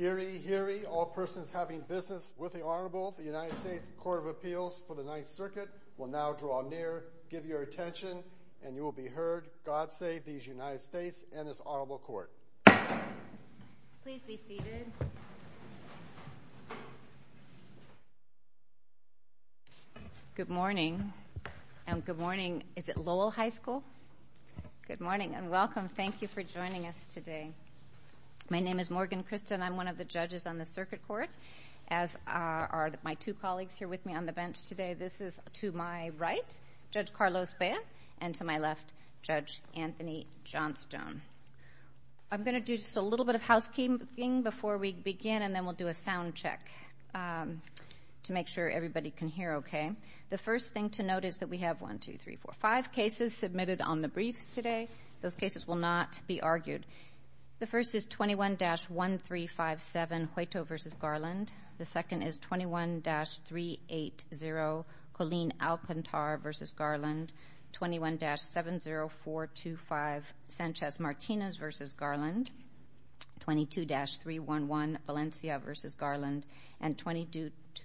Eerie, eerie, all persons having business with the Honorable, the United States Court of Appeals for the Ninth Circuit will now draw near, give your attention, and you will be heard. God save these United States and this Honorable Court. Please be seated. Good morning. Good morning. Is it Lowell High School? Good morning and welcome. Thank you for joining us today. My name is Morgan Christen. I'm one of the judges on the circuit court, as are my two colleagues here with me on the bench today. This is to my right, Judge Carlos Bea, and to my left, Judge Anthony Johnstone. I'm going to do just a little bit of housekeeping before we begin, and then we'll do a sound check to make sure everybody can hear okay. The first thing to note is that we have 1, 2, 3, 4, 5 cases submitted on the briefs today. Those cases will not be argued. The first is 21-1357, Hueto v. Garland. The second is 21-380, Colleen Alcantar v. Garland, 21-70425, Sanchez Martinez v. Garland, 22-311, Valencia v. Garland, and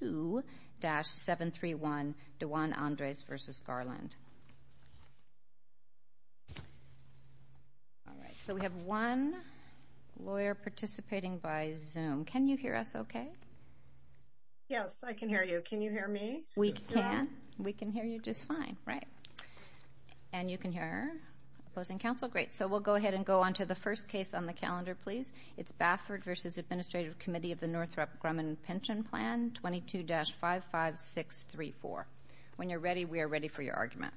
22-731, DeJuan Andres v. Garland. All right, so we have one lawyer participating by Zoom. Can you hear us okay? Yes, I can hear you. Can you hear me? We can. We can hear you just fine, right? And you can hear her opposing counsel? Great. So we'll go ahead and go on to the first case on the calendar, please. It's Baffert v. Administrative Committee of the Northrop Grumman Pension Plan, 22-55634. When you're ready, we are ready for your argument.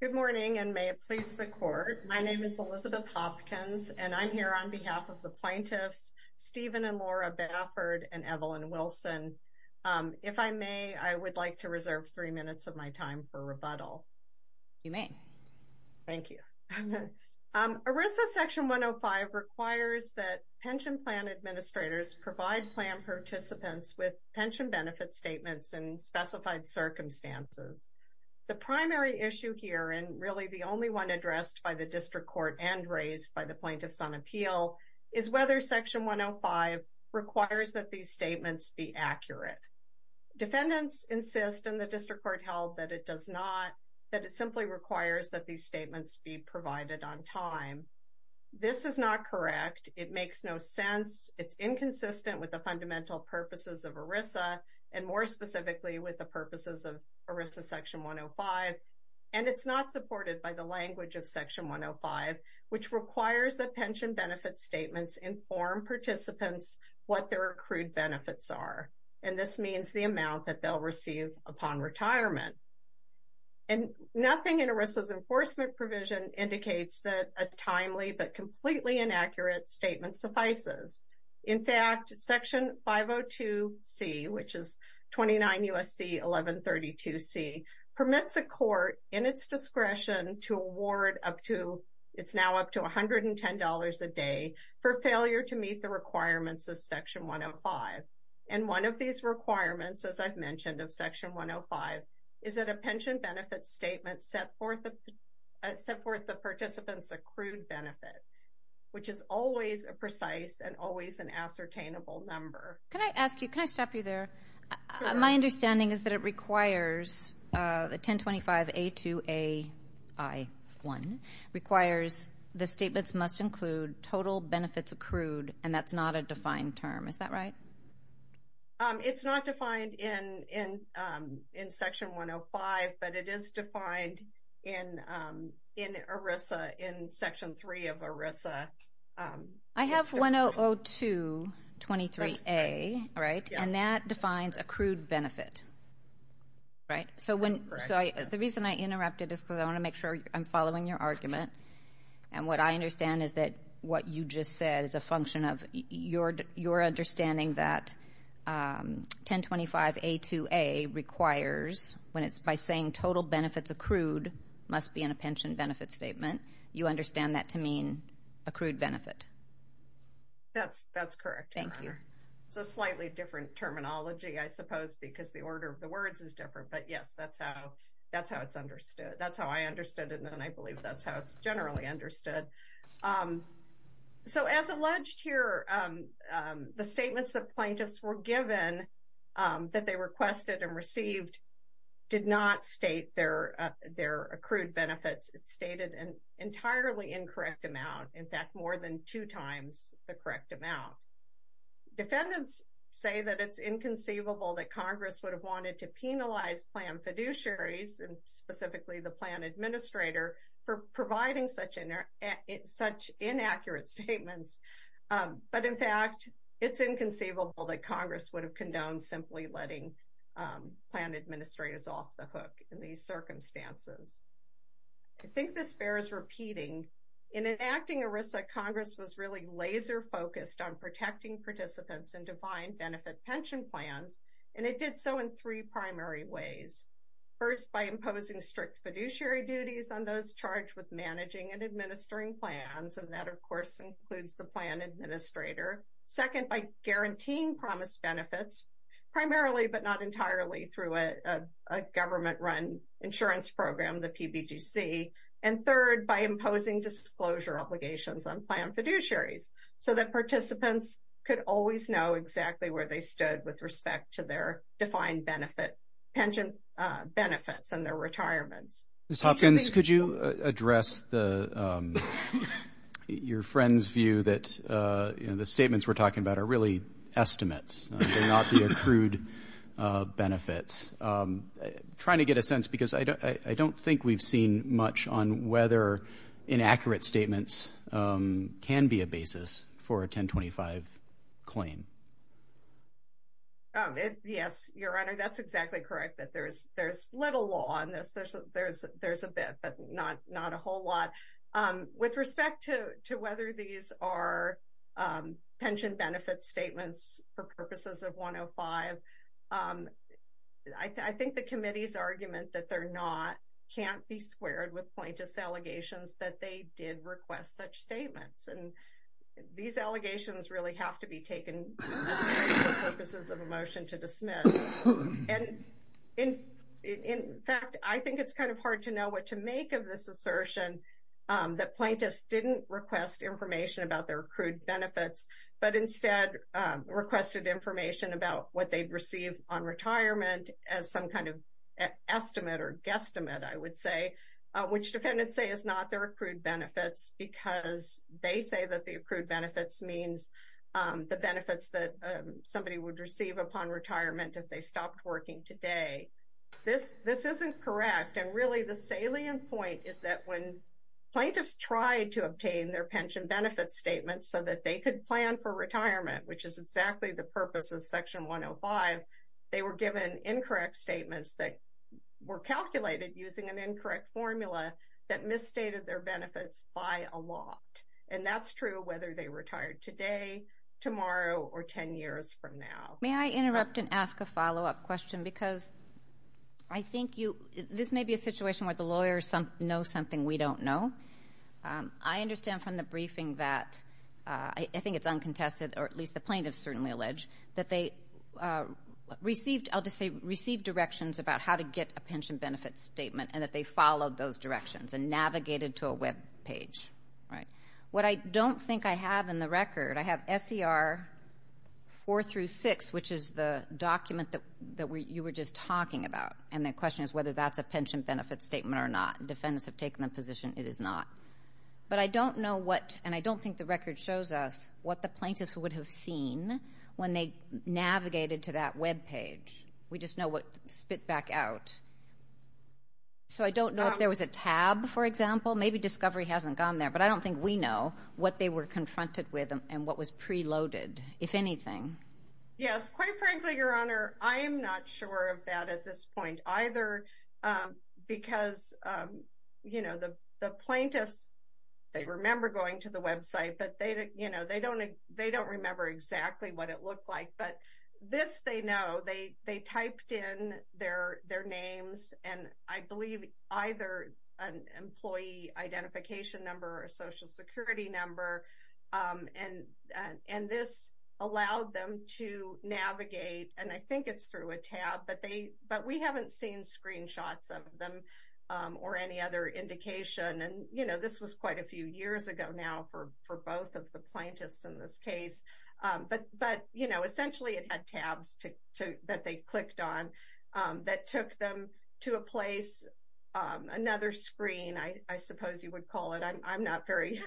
Good morning, and may it please the Court. My name is Elizabeth Hopkins, and I'm here on behalf of the plaintiffs, Stephen and Laura Baffert and Evelyn Wilson. If I may, I would like to reserve three minutes of my time for rebuttal. You may. Thank you. ERISA Section 105 requires that pension plan administrators provide plan participants with pension benefit statements in specified circumstances. The primary issue here, and really the only one addressed by the District Court and raised by the Plaintiffs on Appeal, is whether Section 105 requires that these statements be accurate. Defendants insist, and the District Court held that it does not, that it simply requires that these statements be provided on time. This is not correct. It makes no sense. It's inconsistent with the fundamental purposes of ERISA, and more specifically with the purposes of ERISA Section 105. And it's not supported by the language of Section 105, which requires that pension benefit statements inform participants what their accrued benefits are. And this means the amount that they'll receive upon retirement. And nothing in ERISA's enforcement provision indicates that a timely but completely inaccurate statement suffices. In fact, Section 502C, which is 29 U.S.C. 1132C, permits a court in its discretion to award up to, it's now up to $110 a day for failure to meet the requirements of Section 105. And one of these requirements, as I've mentioned, of Section 105, is that a pension benefit statement set forth the participant's accrued benefit, which is always a precise and always an ascertainable number. Can I ask you, can I stop you there? My understanding is that it requires the 1025A2AI1 requires the statements must include total benefits accrued, and that's not a defined term. Is that right? It's not defined in Section 105, but it is defined in ERISA, in Section 3 of ERISA. I have 100223A, right? And that defines accrued benefit, right? So the reason I interrupted is because I want to make sure I'm following your argument. And what I understand is that what you just said is a function of your understanding that 1025A2A requires, when it's by saying total benefits accrued must be in a pension benefit statement, you understand that to mean accrued benefit. That's that's correct. Thank you. It's a slightly different terminology, I suppose, because the order of the words is different. But yes, that's how that's how it's understood. That's how I understood it. And I believe that's how it's generally understood. So as alleged here, the statements that plaintiffs were given, that they requested and received, did not state their, their accrued benefits, it's stated an entirely incorrect amount, in fact, more than two times the correct amount. Defendants say that it's inconceivable that Congress would have wanted to penalize plan fiduciaries and specifically the plan administrator for providing such an error, such inaccurate statements. But in fact, it's inconceivable that Congress would have condoned simply letting plan administrators off the hook in these circumstances. I think this bears repeating. In enacting ERISA, Congress was really laser focused on protecting participants in defined benefit pension plans, and it did so in three primary ways. First, by imposing strict fiduciary duties on those charged with managing and administering plans, and that, of course, includes the plan administrator. Second, by guaranteeing promise benefits, primarily but not entirely through a government run insurance program, the PBGC. And third, by imposing disclosure obligations on plan fiduciaries, so that participants could always know exactly where they stood with respect to their defined benefit, pension benefits and their retirements. Ms. Hopkins, could you address your friend's view that the statements we're talking about are really estimates and not the accrued benefits? I'm trying to get a sense because I don't think we've seen much on whether inaccurate statements can be a basis for a 1025 claim. Yes, Your Honor, that's exactly correct, that there's little law on this. There's a bit, but not a whole lot. With respect to whether these are pension benefits statements for purposes of 105, I think the committee's argument that they're not, can't be squared with plaintiff's allegations that they did request such statements. And these allegations really have to be taken for purposes of a motion to dismiss. And in fact, I think it's kind of hard to know what to make of this assertion that plaintiffs didn't request information about their accrued benefits, but instead requested information about what they received on retirement as some kind of estimate or guesstimate, I would say, which defendants say is not their accrued benefits because they say that the accrued benefits means the benefits that somebody would receive upon retirement if they stopped working today. This isn't correct, and really the salient point is that when plaintiffs tried to obtain their pension benefits statements so that they could plan for retirement, which is exactly the purpose of Section 105, they were given incorrect statements that were calculated using an incorrect formula that misstated their benefits by a lot. And that's true whether they retired today, tomorrow, or 10 years from now. May I interrupt and ask a follow-up question because I think you, this may be a situation where the lawyers know something we don't know. I understand from the briefing that, I think it's uncontested, or at least the plaintiffs certainly allege, that they received, I'll just say received directions about how to get a pension benefits statement and that they followed those directions and navigated to a web page. What I don't think I have in the record, I have SER 4 through 6, which is the document that you were just talking about, and the question is whether that's a pension benefits statement or not. Defendants have taken the position it is not. But I don't know what, and I don't think the record shows us what the plaintiffs would have seen when they navigated to that web page. We just know what spit back out. So I don't know if there was a tab, for example. Maybe discovery hasn't gone there, but I don't think we know what they were confronted with and what was preloaded, if anything. Yes, quite frankly, Your Honor, I am not sure of that at this point either because the plaintiffs, they remember going to the website, but they don't remember exactly what it looked like. But this they know, they typed in their names and I believe either an employee identification number or social security number. And this allowed them to navigate, and I think it's through a tab, but we haven't seen screenshots of them or any other indication. And this was quite a few years ago now for both of the plaintiffs in this case. But, you know, essentially it had tabs that they clicked on that took them to a place, another screen, I suppose you would call it. I'm not very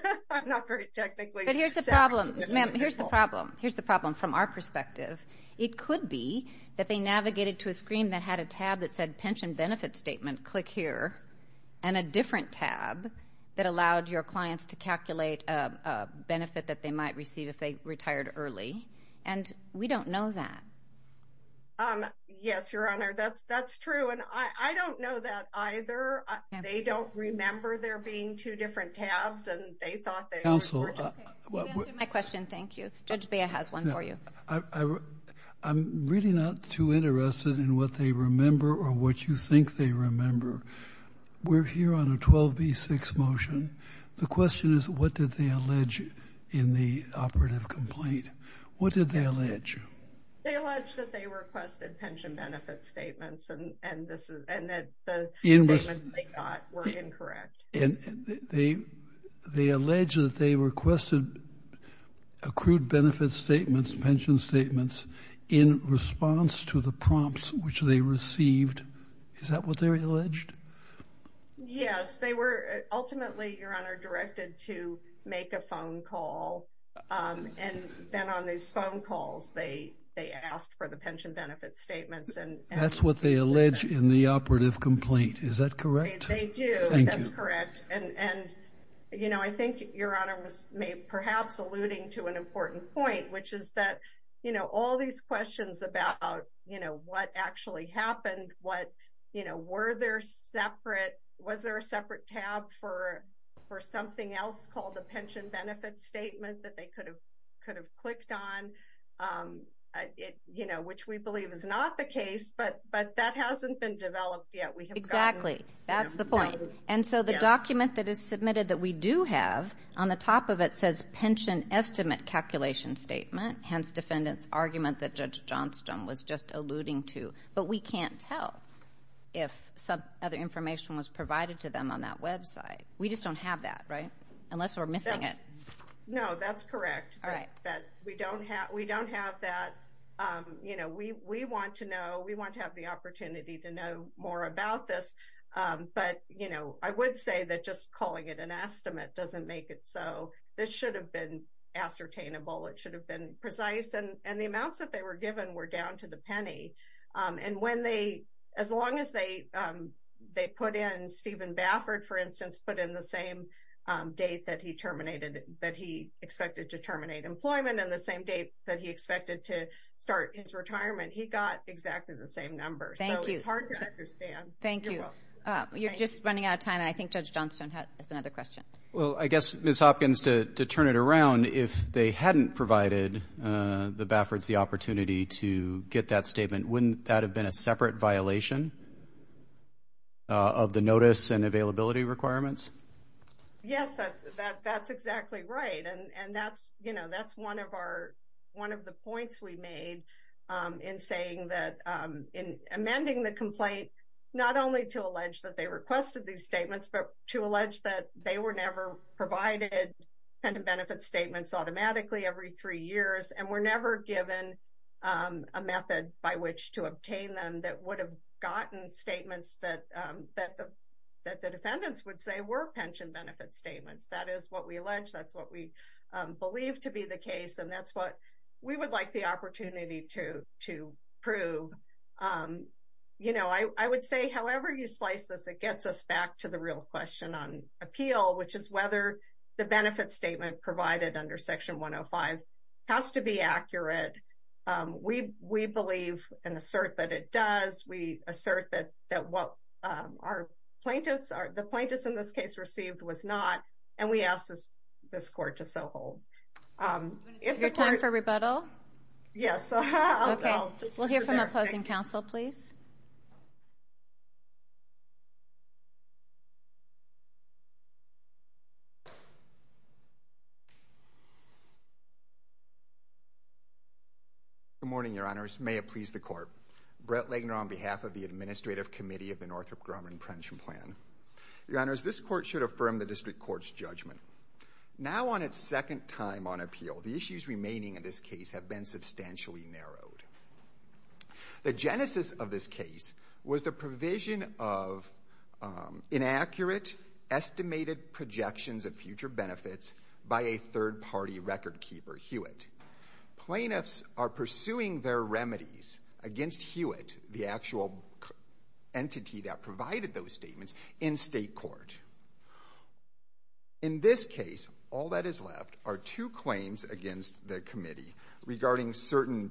technically set. But here's the problem, ma'am, here's the problem. Here's the problem from our perspective. It could be that they navigated to a screen that had a tab that said pension benefit statement, click here, and a different tab that allowed your clients to calculate a benefit that they might receive if they retired early. And we don't know that. Yes, Your Honor, that's true. And I don't know that either. They don't remember there being two different tabs and they thought they were. Counselor. You answered my question. Thank you. Judge Bea has one for you. I'm really not too interested in what they remember or what you think they remember. We're here on a 12 v. 6 motion. The question is, what did they allege in the operative complaint? What did they allege? They allege that they requested pension benefit statements and that the statements they got were incorrect. They allege that they requested accrued benefit statements, pension statements, in response to the prompts which they received. Is that what they alleged? Yes, they were ultimately, Your Honor, directed to make a phone call. And then on these phone calls, they asked for the pension benefit statements. That's what they allege in the operative complaint. Is that correct? They do. Thank you. That's correct. And, you know, I think Your Honor was perhaps alluding to an important point, which is that, you know, all these questions about, you know, what actually happened. What, you know, were there separate? Was there a separate tab for something else called the pension benefit statement that they could have clicked on? You know, which we believe is not the case, but that hasn't been developed yet. Exactly. That's the point. And so the document that is submitted that we do have on the top of it says pension estimate calculation statement. Hence, defendant's argument that Judge Johnstone was just alluding to. But we can't tell if some other information was provided to them on that website. We just don't have that, right? Unless we're missing it. No, that's correct. All right. We don't have that. You know, we want to know. We want to have the opportunity to know more about this. But, you know, I would say that just calling it an estimate doesn't make it so. This should have been ascertainable. It should have been precise. And the amounts that they were given were down to the penny. And when they, as long as they put in Stephen Baffert, for instance, put in the same date that he terminated, that he expected to terminate employment and the same date that he expected to start his retirement, he got exactly the same number. Thank you. So it's hard to understand. Thank you. You're just running out of time. I think Judge Johnstone has another question. Well, I guess, Ms. Hopkins, to turn it around, if they hadn't provided the Bafferts the opportunity to get that statement, wouldn't that have been a separate violation of the notice and availability requirements? Yes, that's exactly right. And, you know, that's one of the points we made in saying that in amending the complaint, not only to allege that they requested these statements, but to allege that they were never provided pension benefit statements automatically every three years and were never given a method by which to obtain them that would have gotten statements that the defendants would say were pension benefit statements. That is what we allege. That's what we believe to be the case. And that's what we would like the opportunity to prove. You know, I would say however you slice this, it gets us back to the real question on appeal, which is whether the benefit statement provided under Section 105 has to be accurate. We believe and assert that it does. We assert that what the plaintiffs in this case received was not, and we ask this court to so hold. Is it time for rebuttal? Yes. Okay. We'll hear from opposing counsel, please. Good morning, Your Honors. May it please the Court. Brett Lagner on behalf of the Administrative Committee of the Northrop Grumman Pension Plan. Your Honors, this court should affirm the district court's judgment. Now on its second time on appeal, the issues remaining in this case have been substantially narrowed. The genesis of this case was the provision of inaccurate estimated projections of future benefits by a third party record keeper, Hewitt. Plaintiffs are pursuing their remedies against Hewitt, the actual entity that provided those statements, in state court. In this case, all that is left are two claims against the committee regarding certain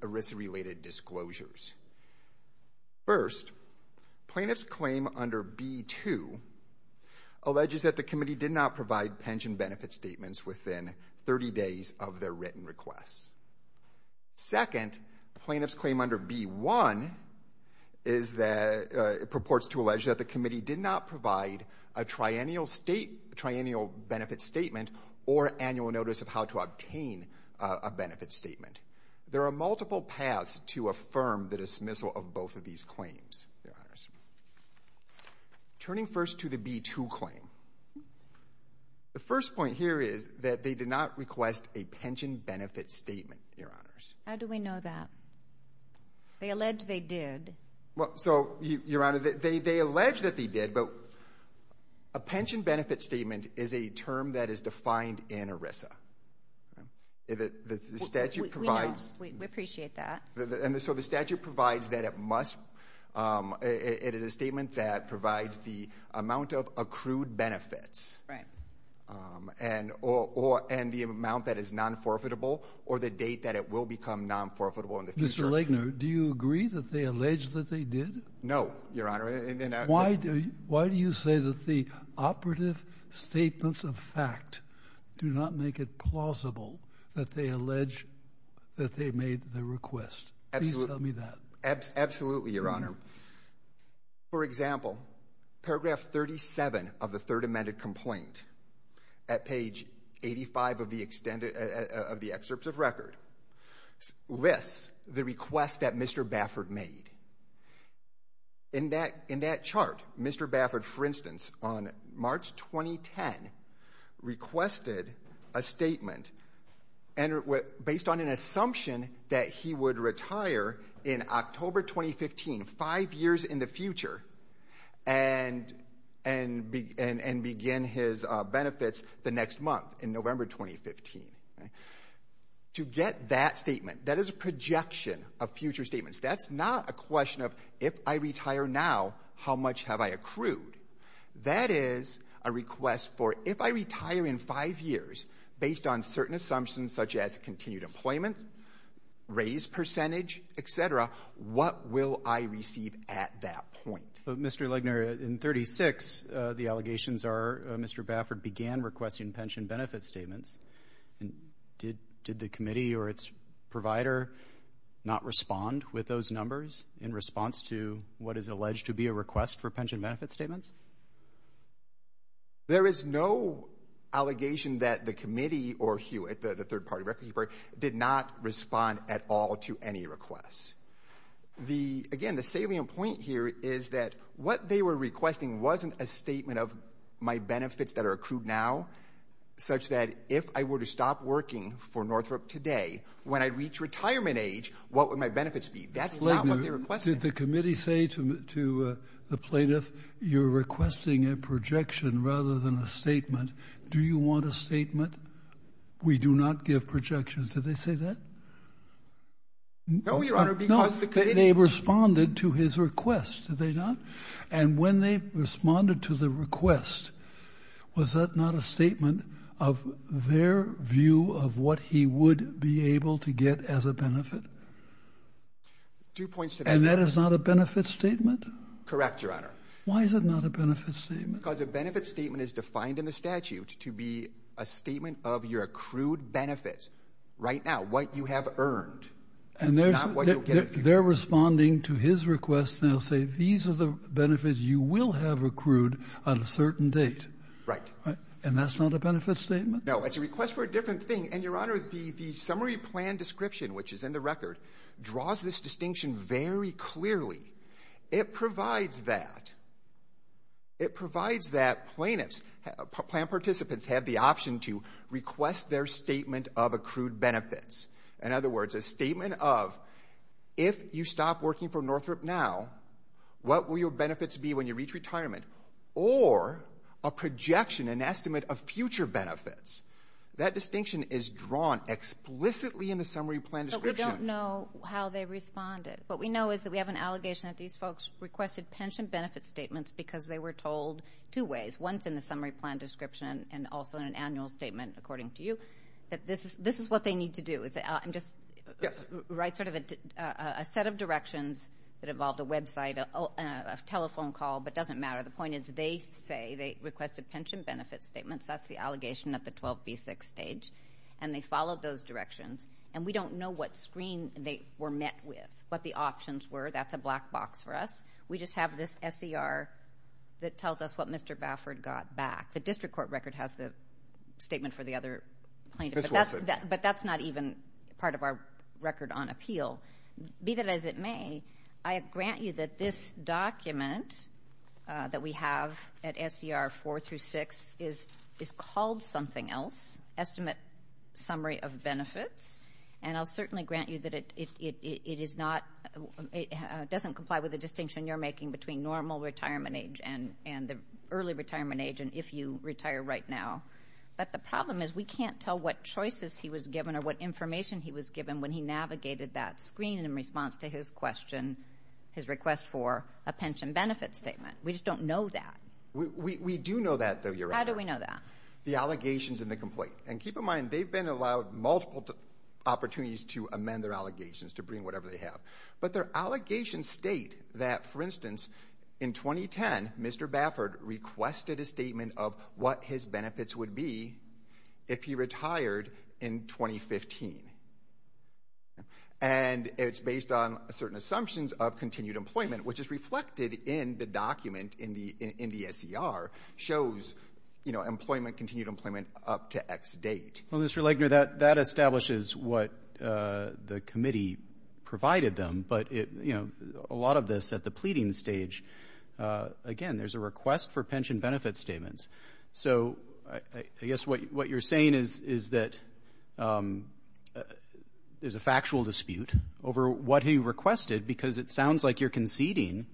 ERISA-related disclosures. First, plaintiff's claim under B-2 alleges that the committee did not provide pension benefit statements within 30 days of their written requests. Second, plaintiff's claim under B-1 purports to allege that the committee did not provide a triennial benefit statement or annual notice of how to obtain a benefit statement. There are multiple paths to affirm the dismissal of both of these claims, Your Honors. Turning first to the B-2 claim. The first point here is that they did not request a pension benefit statement, Your Honors. How do we know that? They allege they did. Well, so, Your Honor, they allege that they did, but a pension benefit statement is a term that is defined in ERISA. The statute provides... We know. We appreciate that. And so the statute provides that it must, it is a statement that provides the amount of accrued benefits. Right. And the amount that is non-forfeitable or the date that it will become non-forfeitable in the future. Mr. Legner, do you agree that they allege that they did? No, Your Honor. Why do you say that the operative statements of fact do not make it plausible that they allege that they made the request? Please tell me that. Absolutely, Your Honor. For example, paragraph 37 of the Third Amended Complaint at page 85 of the extended, of the excerpts of record, lists the request that Mr. Baffert made. In that chart, Mr. Baffert, for instance, on March 2010, requested a statement based on an assumption that he would retire in October 2015, five years in the future, and begin his benefits the next month in November 2015. To get that statement, that is a projection of future statements. That's not a question of if I retire now, how much have I accrued. That is a request for if I retire in five years, based on certain assumptions such as continued employment, raised percentage, et cetera, what will I receive at that point? Mr. Legner, in 36, the allegations are Mr. Baffert began requesting pension benefit statements. Did the committee or its provider not respond with those numbers in response to what is alleged to be a request for pension benefit statements? There is no allegation that the committee or the third party record keeper did not respond at all to any requests. Again, the salient point here is that what they were requesting wasn't a statement of my benefits that are accrued now, such that if I were to stop working for Northrop today, when I reach retirement age, what would my benefits be? That's not what they requested. Did the committee say to the plaintiff, you're requesting a projection rather than a statement? Do you want a statement? We do not give projections. Did they say that? No, Your Honor, because the committee... No, they responded to his request, did they not? And when they responded to the request, was that not a statement of their view of what he would be able to get as a benefit? Two points to that. And that is not a benefit statement? Correct, Your Honor. Why is it not a benefit statement? Because a benefit statement is defined in the statute to be a statement of your accrued benefits right now, what you have earned. And they're responding to his request, and they'll say these are the benefits you will have accrued on a certain date. Right. And that's not a benefit statement? No, it's a request for a different thing. And, Your Honor, the summary plan description, which is in the record, draws this distinction very clearly. It provides that. It provides that plaintiffs, plan participants, have the option to request their statement of accrued benefits. In other words, a statement of, if you stop working for Northrop now, what will your benefits be when you reach retirement? Or a projection, an estimate of future benefits. That distinction is drawn explicitly in the summary plan description. But we don't know how they responded. What we know is that we have an allegation that these folks requested pension benefit statements because they were told two ways. One is in the summary plan description, and also in an annual statement, according to you, that this is what they need to do. I'm just going to write sort of a set of directions that involved a website, a telephone call, but it doesn't matter. The point is they say they requested pension benefit statements. That's the allegation at the 12B6 stage. And they followed those directions. And we don't know what screen they were met with, what the options were. That's a black box for us. We just have this SER that tells us what Mr. Baffert got back. The district court record has the statement for the other plaintiff. But that's not even part of our record on appeal. Be that as it may, I grant you that this document that we have at SER 4 through 6 is called something else, estimate summary of benefits. And I'll certainly grant you that it doesn't comply with the distinction you're making between normal retirement age and the early retirement age and if you retire right now. But the problem is we can't tell what choices he was given or what information he was given when he navigated that screen in response to his question, his request for a pension benefit statement. We just don't know that. We do know that, though, Your Honor. How do we know that? The allegations and the complaint. And keep in mind, they've been allowed multiple opportunities to amend their allegations, to bring whatever they have. But their allegations state that, for instance, in 2010, Mr. Baffert requested a statement of what his benefits would be if he retired in 2015. And it's based on certain assumptions of continued employment, which is reflected in the document in the SER, shows, you know, employment, continued employment up to X date. Well, Mr. Legner, that establishes what the committee provided them. But, you know, a lot of this at the pleading stage, again, there's a request for pension benefit statements. So I guess what you're saying is that there's a factual dispute over what he requested because it sounds like you're conceding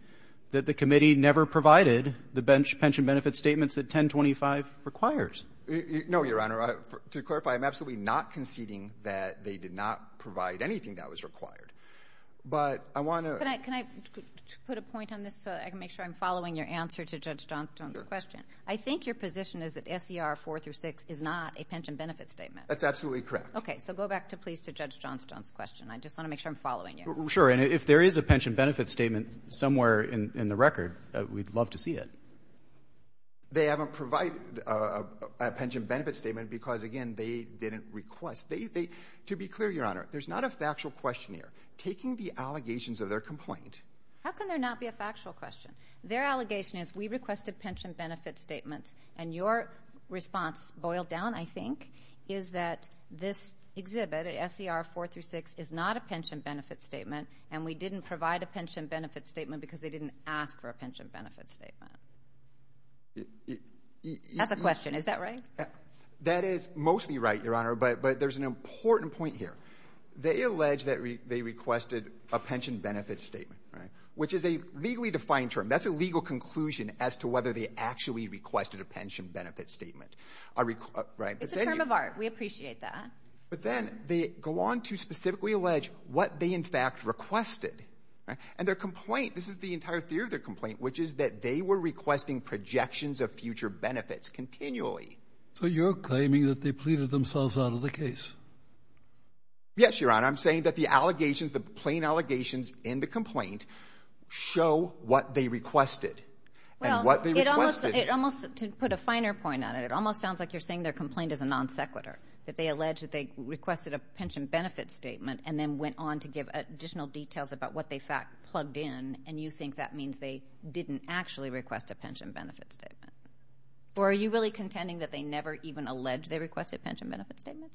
that the committee never provided the pension benefit statements that 1025 requires. No, Your Honor. To clarify, I'm absolutely not conceding that they did not provide anything that was required. But I want to ---- But can I put a point on this so I can make sure I'm following your answer to Judge Johnstone's question? Sure. I think your position is that SER 4 through 6 is not a pension benefit statement. That's absolutely correct. Okay. So go back, please, to Judge Johnstone's question. I just want to make sure I'm following you. Sure. And if there is a pension benefit statement somewhere in the record, we'd love to see it. They haven't provided a pension benefit statement because, again, they didn't request. They ---- To be clear, Your Honor, there's not a factual question here. Taking the allegations of their complaint ---- How can there not be a factual question? Their allegation is we requested pension benefit statements, and your response, boiled down, I think, is that this exhibit, SER 4 through 6, is not a pension benefit statement, and we didn't provide a pension benefit statement because they didn't ask for a pension benefit statement. That's a question. Is that right? That is mostly right, Your Honor, but there's an important point here. They allege that they requested a pension benefit statement, which is a legally defined term. That's a legal conclusion as to whether they actually requested a pension benefit statement. It's a term of art. We appreciate that. But then they go on to specifically allege what they, in fact, requested. And their complaint, this is the entire theory of their complaint, which is that they were requesting projections of future benefits continually. So you're claiming that they pleaded themselves out of the case? Yes, Your Honor. I'm saying that the allegations, the plain allegations in the complaint show what they requested and what they requested. Well, it almost ---- to put a finer point on it, it almost sounds like you're saying their complaint is a non sequitur, that they allege that they requested a pension benefit statement and then went on to give additional details about what they, in fact, plugged in. And you think that means they didn't actually request a pension benefit statement? Or are you really contending that they never even alleged they requested a pension benefit statement?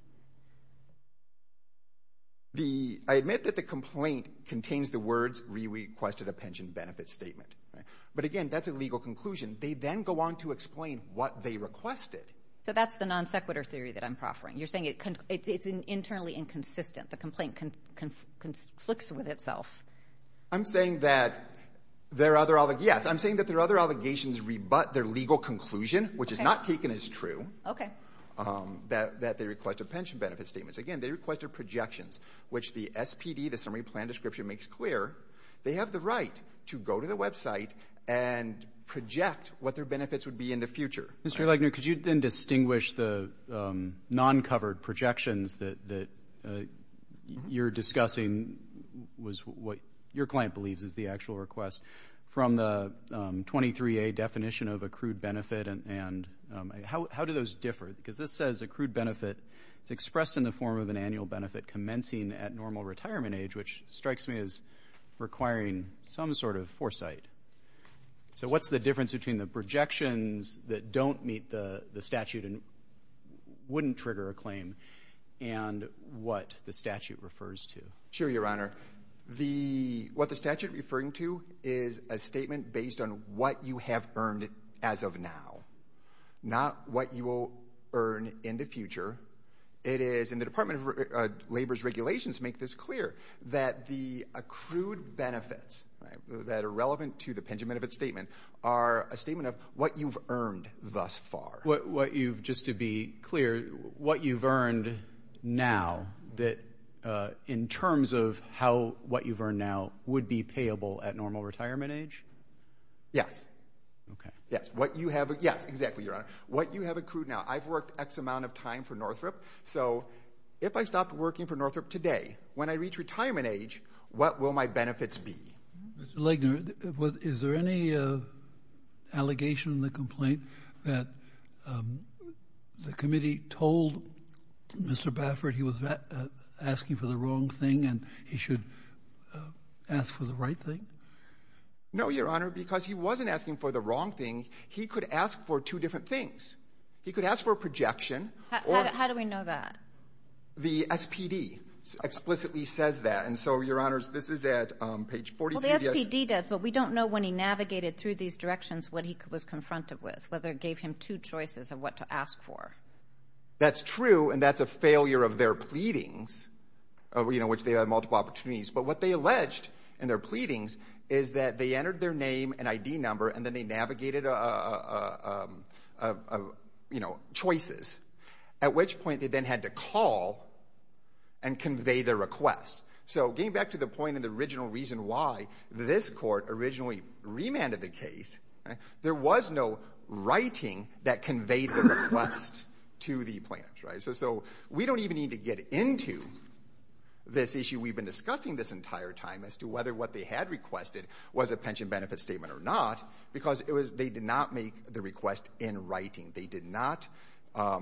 The ---- I admit that the complaint contains the words re-requested a pension benefit statement. But again, that's a legal conclusion. They then go on to explain what they requested. So that's the non sequitur theory that I'm proffering. You're saying it's internally inconsistent. The complaint conflicts with itself. I'm saying that their other ---- yes, I'm saying that their other allegations rebut their legal conclusion, which is not taken as true. Okay. That they requested a pension benefit statement. Again, they requested projections, which the SPD, the summary plan description, makes clear they have the right to go to the website and project what their benefits would be in the future. Mr. Legner, could you then distinguish the non-covered projections that you're discussing was what your client believes is the actual request from the 23A definition of accrued benefit? And how do those differ? Because this says accrued benefit is expressed in the form of an annual benefit commencing at normal retirement age, which strikes me as requiring some sort of foresight. So what's the difference between the projections that don't meet the statute and wouldn't trigger a claim and what the statute refers to? Sure, Your Honor. What the statute is referring to is a statement based on what you have earned as of now, not what you will earn in the future. It is, and the Department of Labor's regulations make this clear, that the statement are a statement of what you've earned thus far. Just to be clear, what you've earned now, in terms of what you've earned now, would be payable at normal retirement age? Yes. Okay. Yes, exactly, Your Honor. What you have accrued now. I've worked X amount of time for Northrop, so if I stopped working for Northrop today, when I reach retirement age, what will my benefits be? Mr. Legner, is there any allegation in the complaint that the committee told Mr. Baffert he was asking for the wrong thing and he should ask for the right thing? No, Your Honor, because he wasn't asking for the wrong thing. He could ask for two different things. He could ask for a projection. How do we know that? The SPD explicitly says that. So, Your Honors, this is at page 43. Well, the SPD does, but we don't know when he navigated through these directions what he was confronted with, whether it gave him two choices of what to ask for. That's true, and that's a failure of their pleadings, which they had multiple opportunities. But what they alleged in their pleadings is that they entered their name and ID number and then they navigated choices, at which point they then had to call and convey their request. So getting back to the point and the original reason why this court originally remanded the case, there was no writing that conveyed the request to the plaintiffs. So we don't even need to get into this issue we've been discussing this entire time as to whether what they had requested was a pension benefit statement or not, because they did not make the request in writing. They did not. But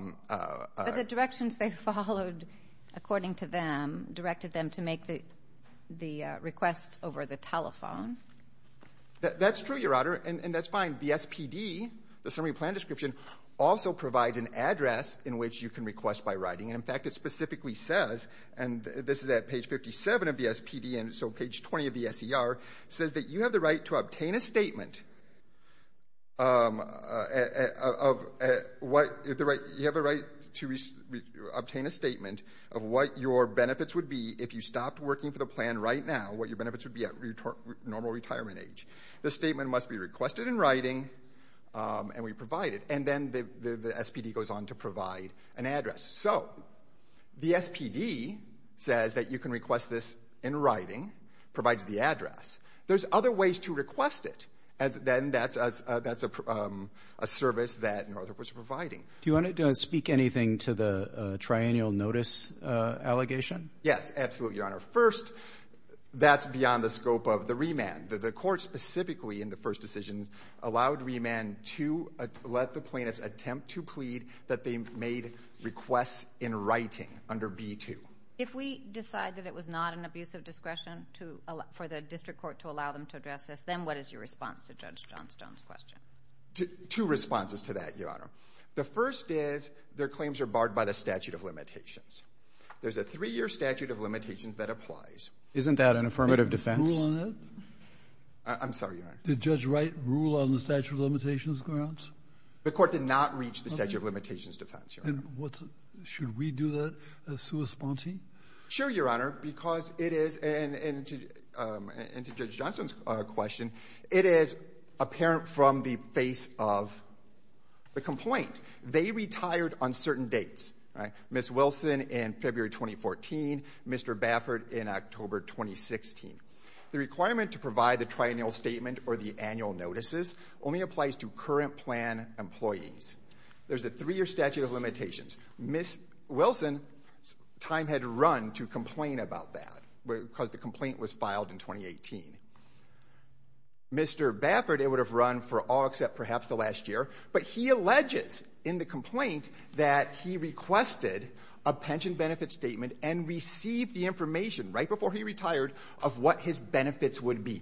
the directions they followed, according to them, directed them to make the request over the telephone. That's true, Your Honor, and that's fine. The SPD, the summary plan description, also provides an address in which you can request by writing. And, in fact, it specifically says, and this is at page 57 of the SPD and so page 20 of the SER, says that you have the right to obtain a statement of what your benefits would be if you stopped working for the plan right now, what your benefits would be at normal retirement age. This statement must be requested in writing, and we provide it. And then the SPD goes on to provide an address. So the SPD says that you can request this in writing, provides the address. There's other ways to request it, as then that's a service that Northrop was providing. Do you want to speak anything to the triennial notice allegation? Yes, absolutely, Your Honor. First, that's beyond the scope of the remand. The court specifically in the first decision allowed remand to let the plaintiffs attempt to plead that they made requests in writing under B-2. If we decide that it was not an abuse of discretion for the district court to allow them to address this, then what is your response to Judge Johnstone's question? Two responses to that, Your Honor. The first is their claims are barred by the statute of limitations. There's a three-year statute of limitations that applies. Isn't that an affirmative defense? Rule on it? I'm sorry, Your Honor. Did Judge Wright rule on the statute of limitations grounds? The court did not reach the statute of limitations defense, Your Honor. And what's the – should we do that as sui sponte? Sure, Your Honor, because it is – and to Judge Johnstone's question, it is apparent from the face of the complaint. They retired on certain dates, right? Ms. Wilson in February 2014, Mr. Baffert in October 2016. The requirement to provide the triennial statement or the annual notices only applies to current plan employees. There's a three-year statute of limitations. Ms. Wilson's time had run to complain about that because the complaint was filed in 2018. Mr. Baffert, it would have run for all except perhaps the last year, but he alleges in the complaint that he requested a pension benefit statement and received the information right before he retired of what his benefits would be.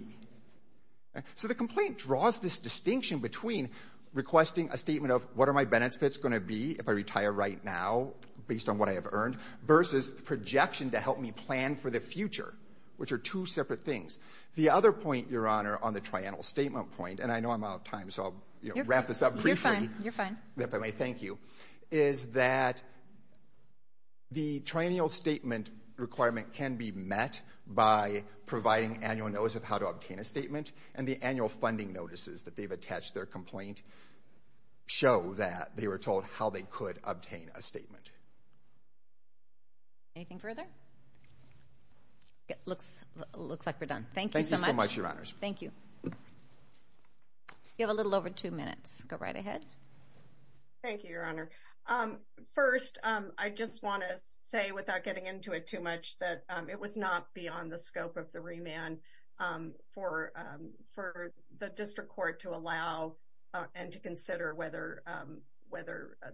So the complaint draws this distinction between requesting a statement of what are my benefits going to be if I retire right now based on what I have earned versus projection to help me plan for the future, which are two separate things. The other point, Your Honor, on the triennial statement point – and I know I'm out of time, so I'll wrap this up briefly. You're fine. You're fine. If I may thank you, is that the triennial statement requirement can be met by providing annual notice of how to obtain a statement, and the annual funding notices that they've attached to their complaint show that they were told how they could obtain a statement. Anything further? It looks like we're done. Thank you so much. Thank you so much, Your Honors. Thank you. You have a little over two minutes. Go right ahead. Thank you, Your Honor. First, I just want to say, without getting into it too much, that it was not beyond the scope of the remand for the district court to allow and to consider whether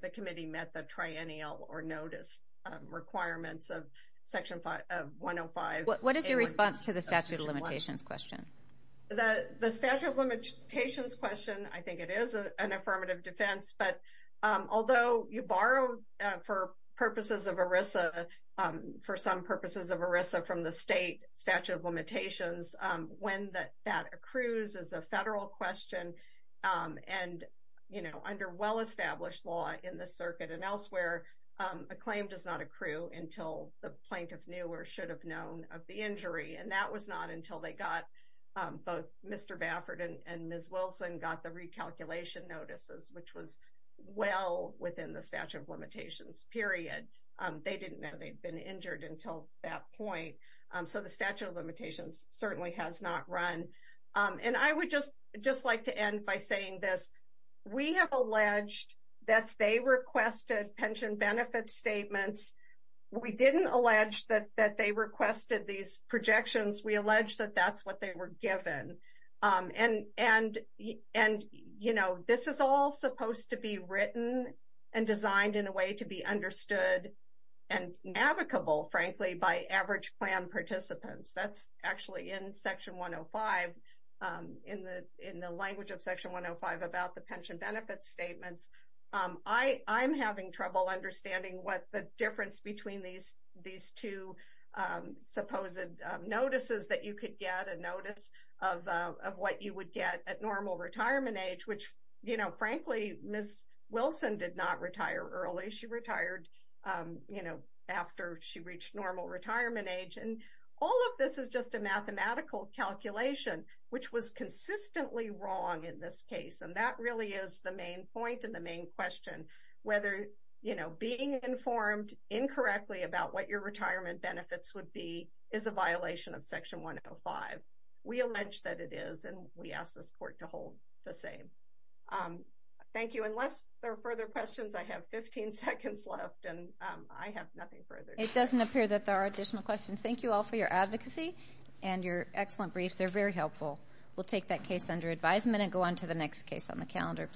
the committee met the triennial or notice requirements of Section 105. What is your response to the statute of limitations question? The statute of limitations question, I think it is an affirmative defense, but although you borrow for purposes of ERISA, for some purposes of ERISA from the state statute of limitations, when that accrues is a federal question, and under well-established law in the circuit and elsewhere, a claim does not accrue until the plaintiff knew or should have known of the injury, and that was not until they got both Mr. Baffert and Ms. Wilson got the recalculation notices, which was well within the statute of limitations period. They didn't know they'd been injured until that point, so the statute of limitations certainly has not run. And I would just like to end by saying this. We have alleged that they requested pension benefit statements. We didn't allege that they requested these projections. We allege that that's what they were given, and, you know, this is all supposed to be written and designed in a way to be understood and navigable, frankly, by average plan participants. That's actually in Section 105, in the language of Section 105 about the pension benefit statements. I'm having trouble understanding what the difference between these two supposed notices that you could get, a notice of what you would get at normal retirement age, which, you know, frankly, Ms. Wilson did not retire early. She retired, you know, after she reached normal retirement age, and all of this is just a mathematical calculation, which was consistently wrong in this case, and that really is the main question, whether, you know, being informed incorrectly about what your retirement benefits would be is a violation of Section 105. We allege that it is, and we ask this Court to hold the same. Thank you. Unless there are further questions, I have 15 seconds left, and I have nothing further to say. It doesn't appear that there are additional questions. Thank you all for your advocacy and your excellent briefs. They're very helpful. We'll take that case under advisement and go on to the next case on the calendar.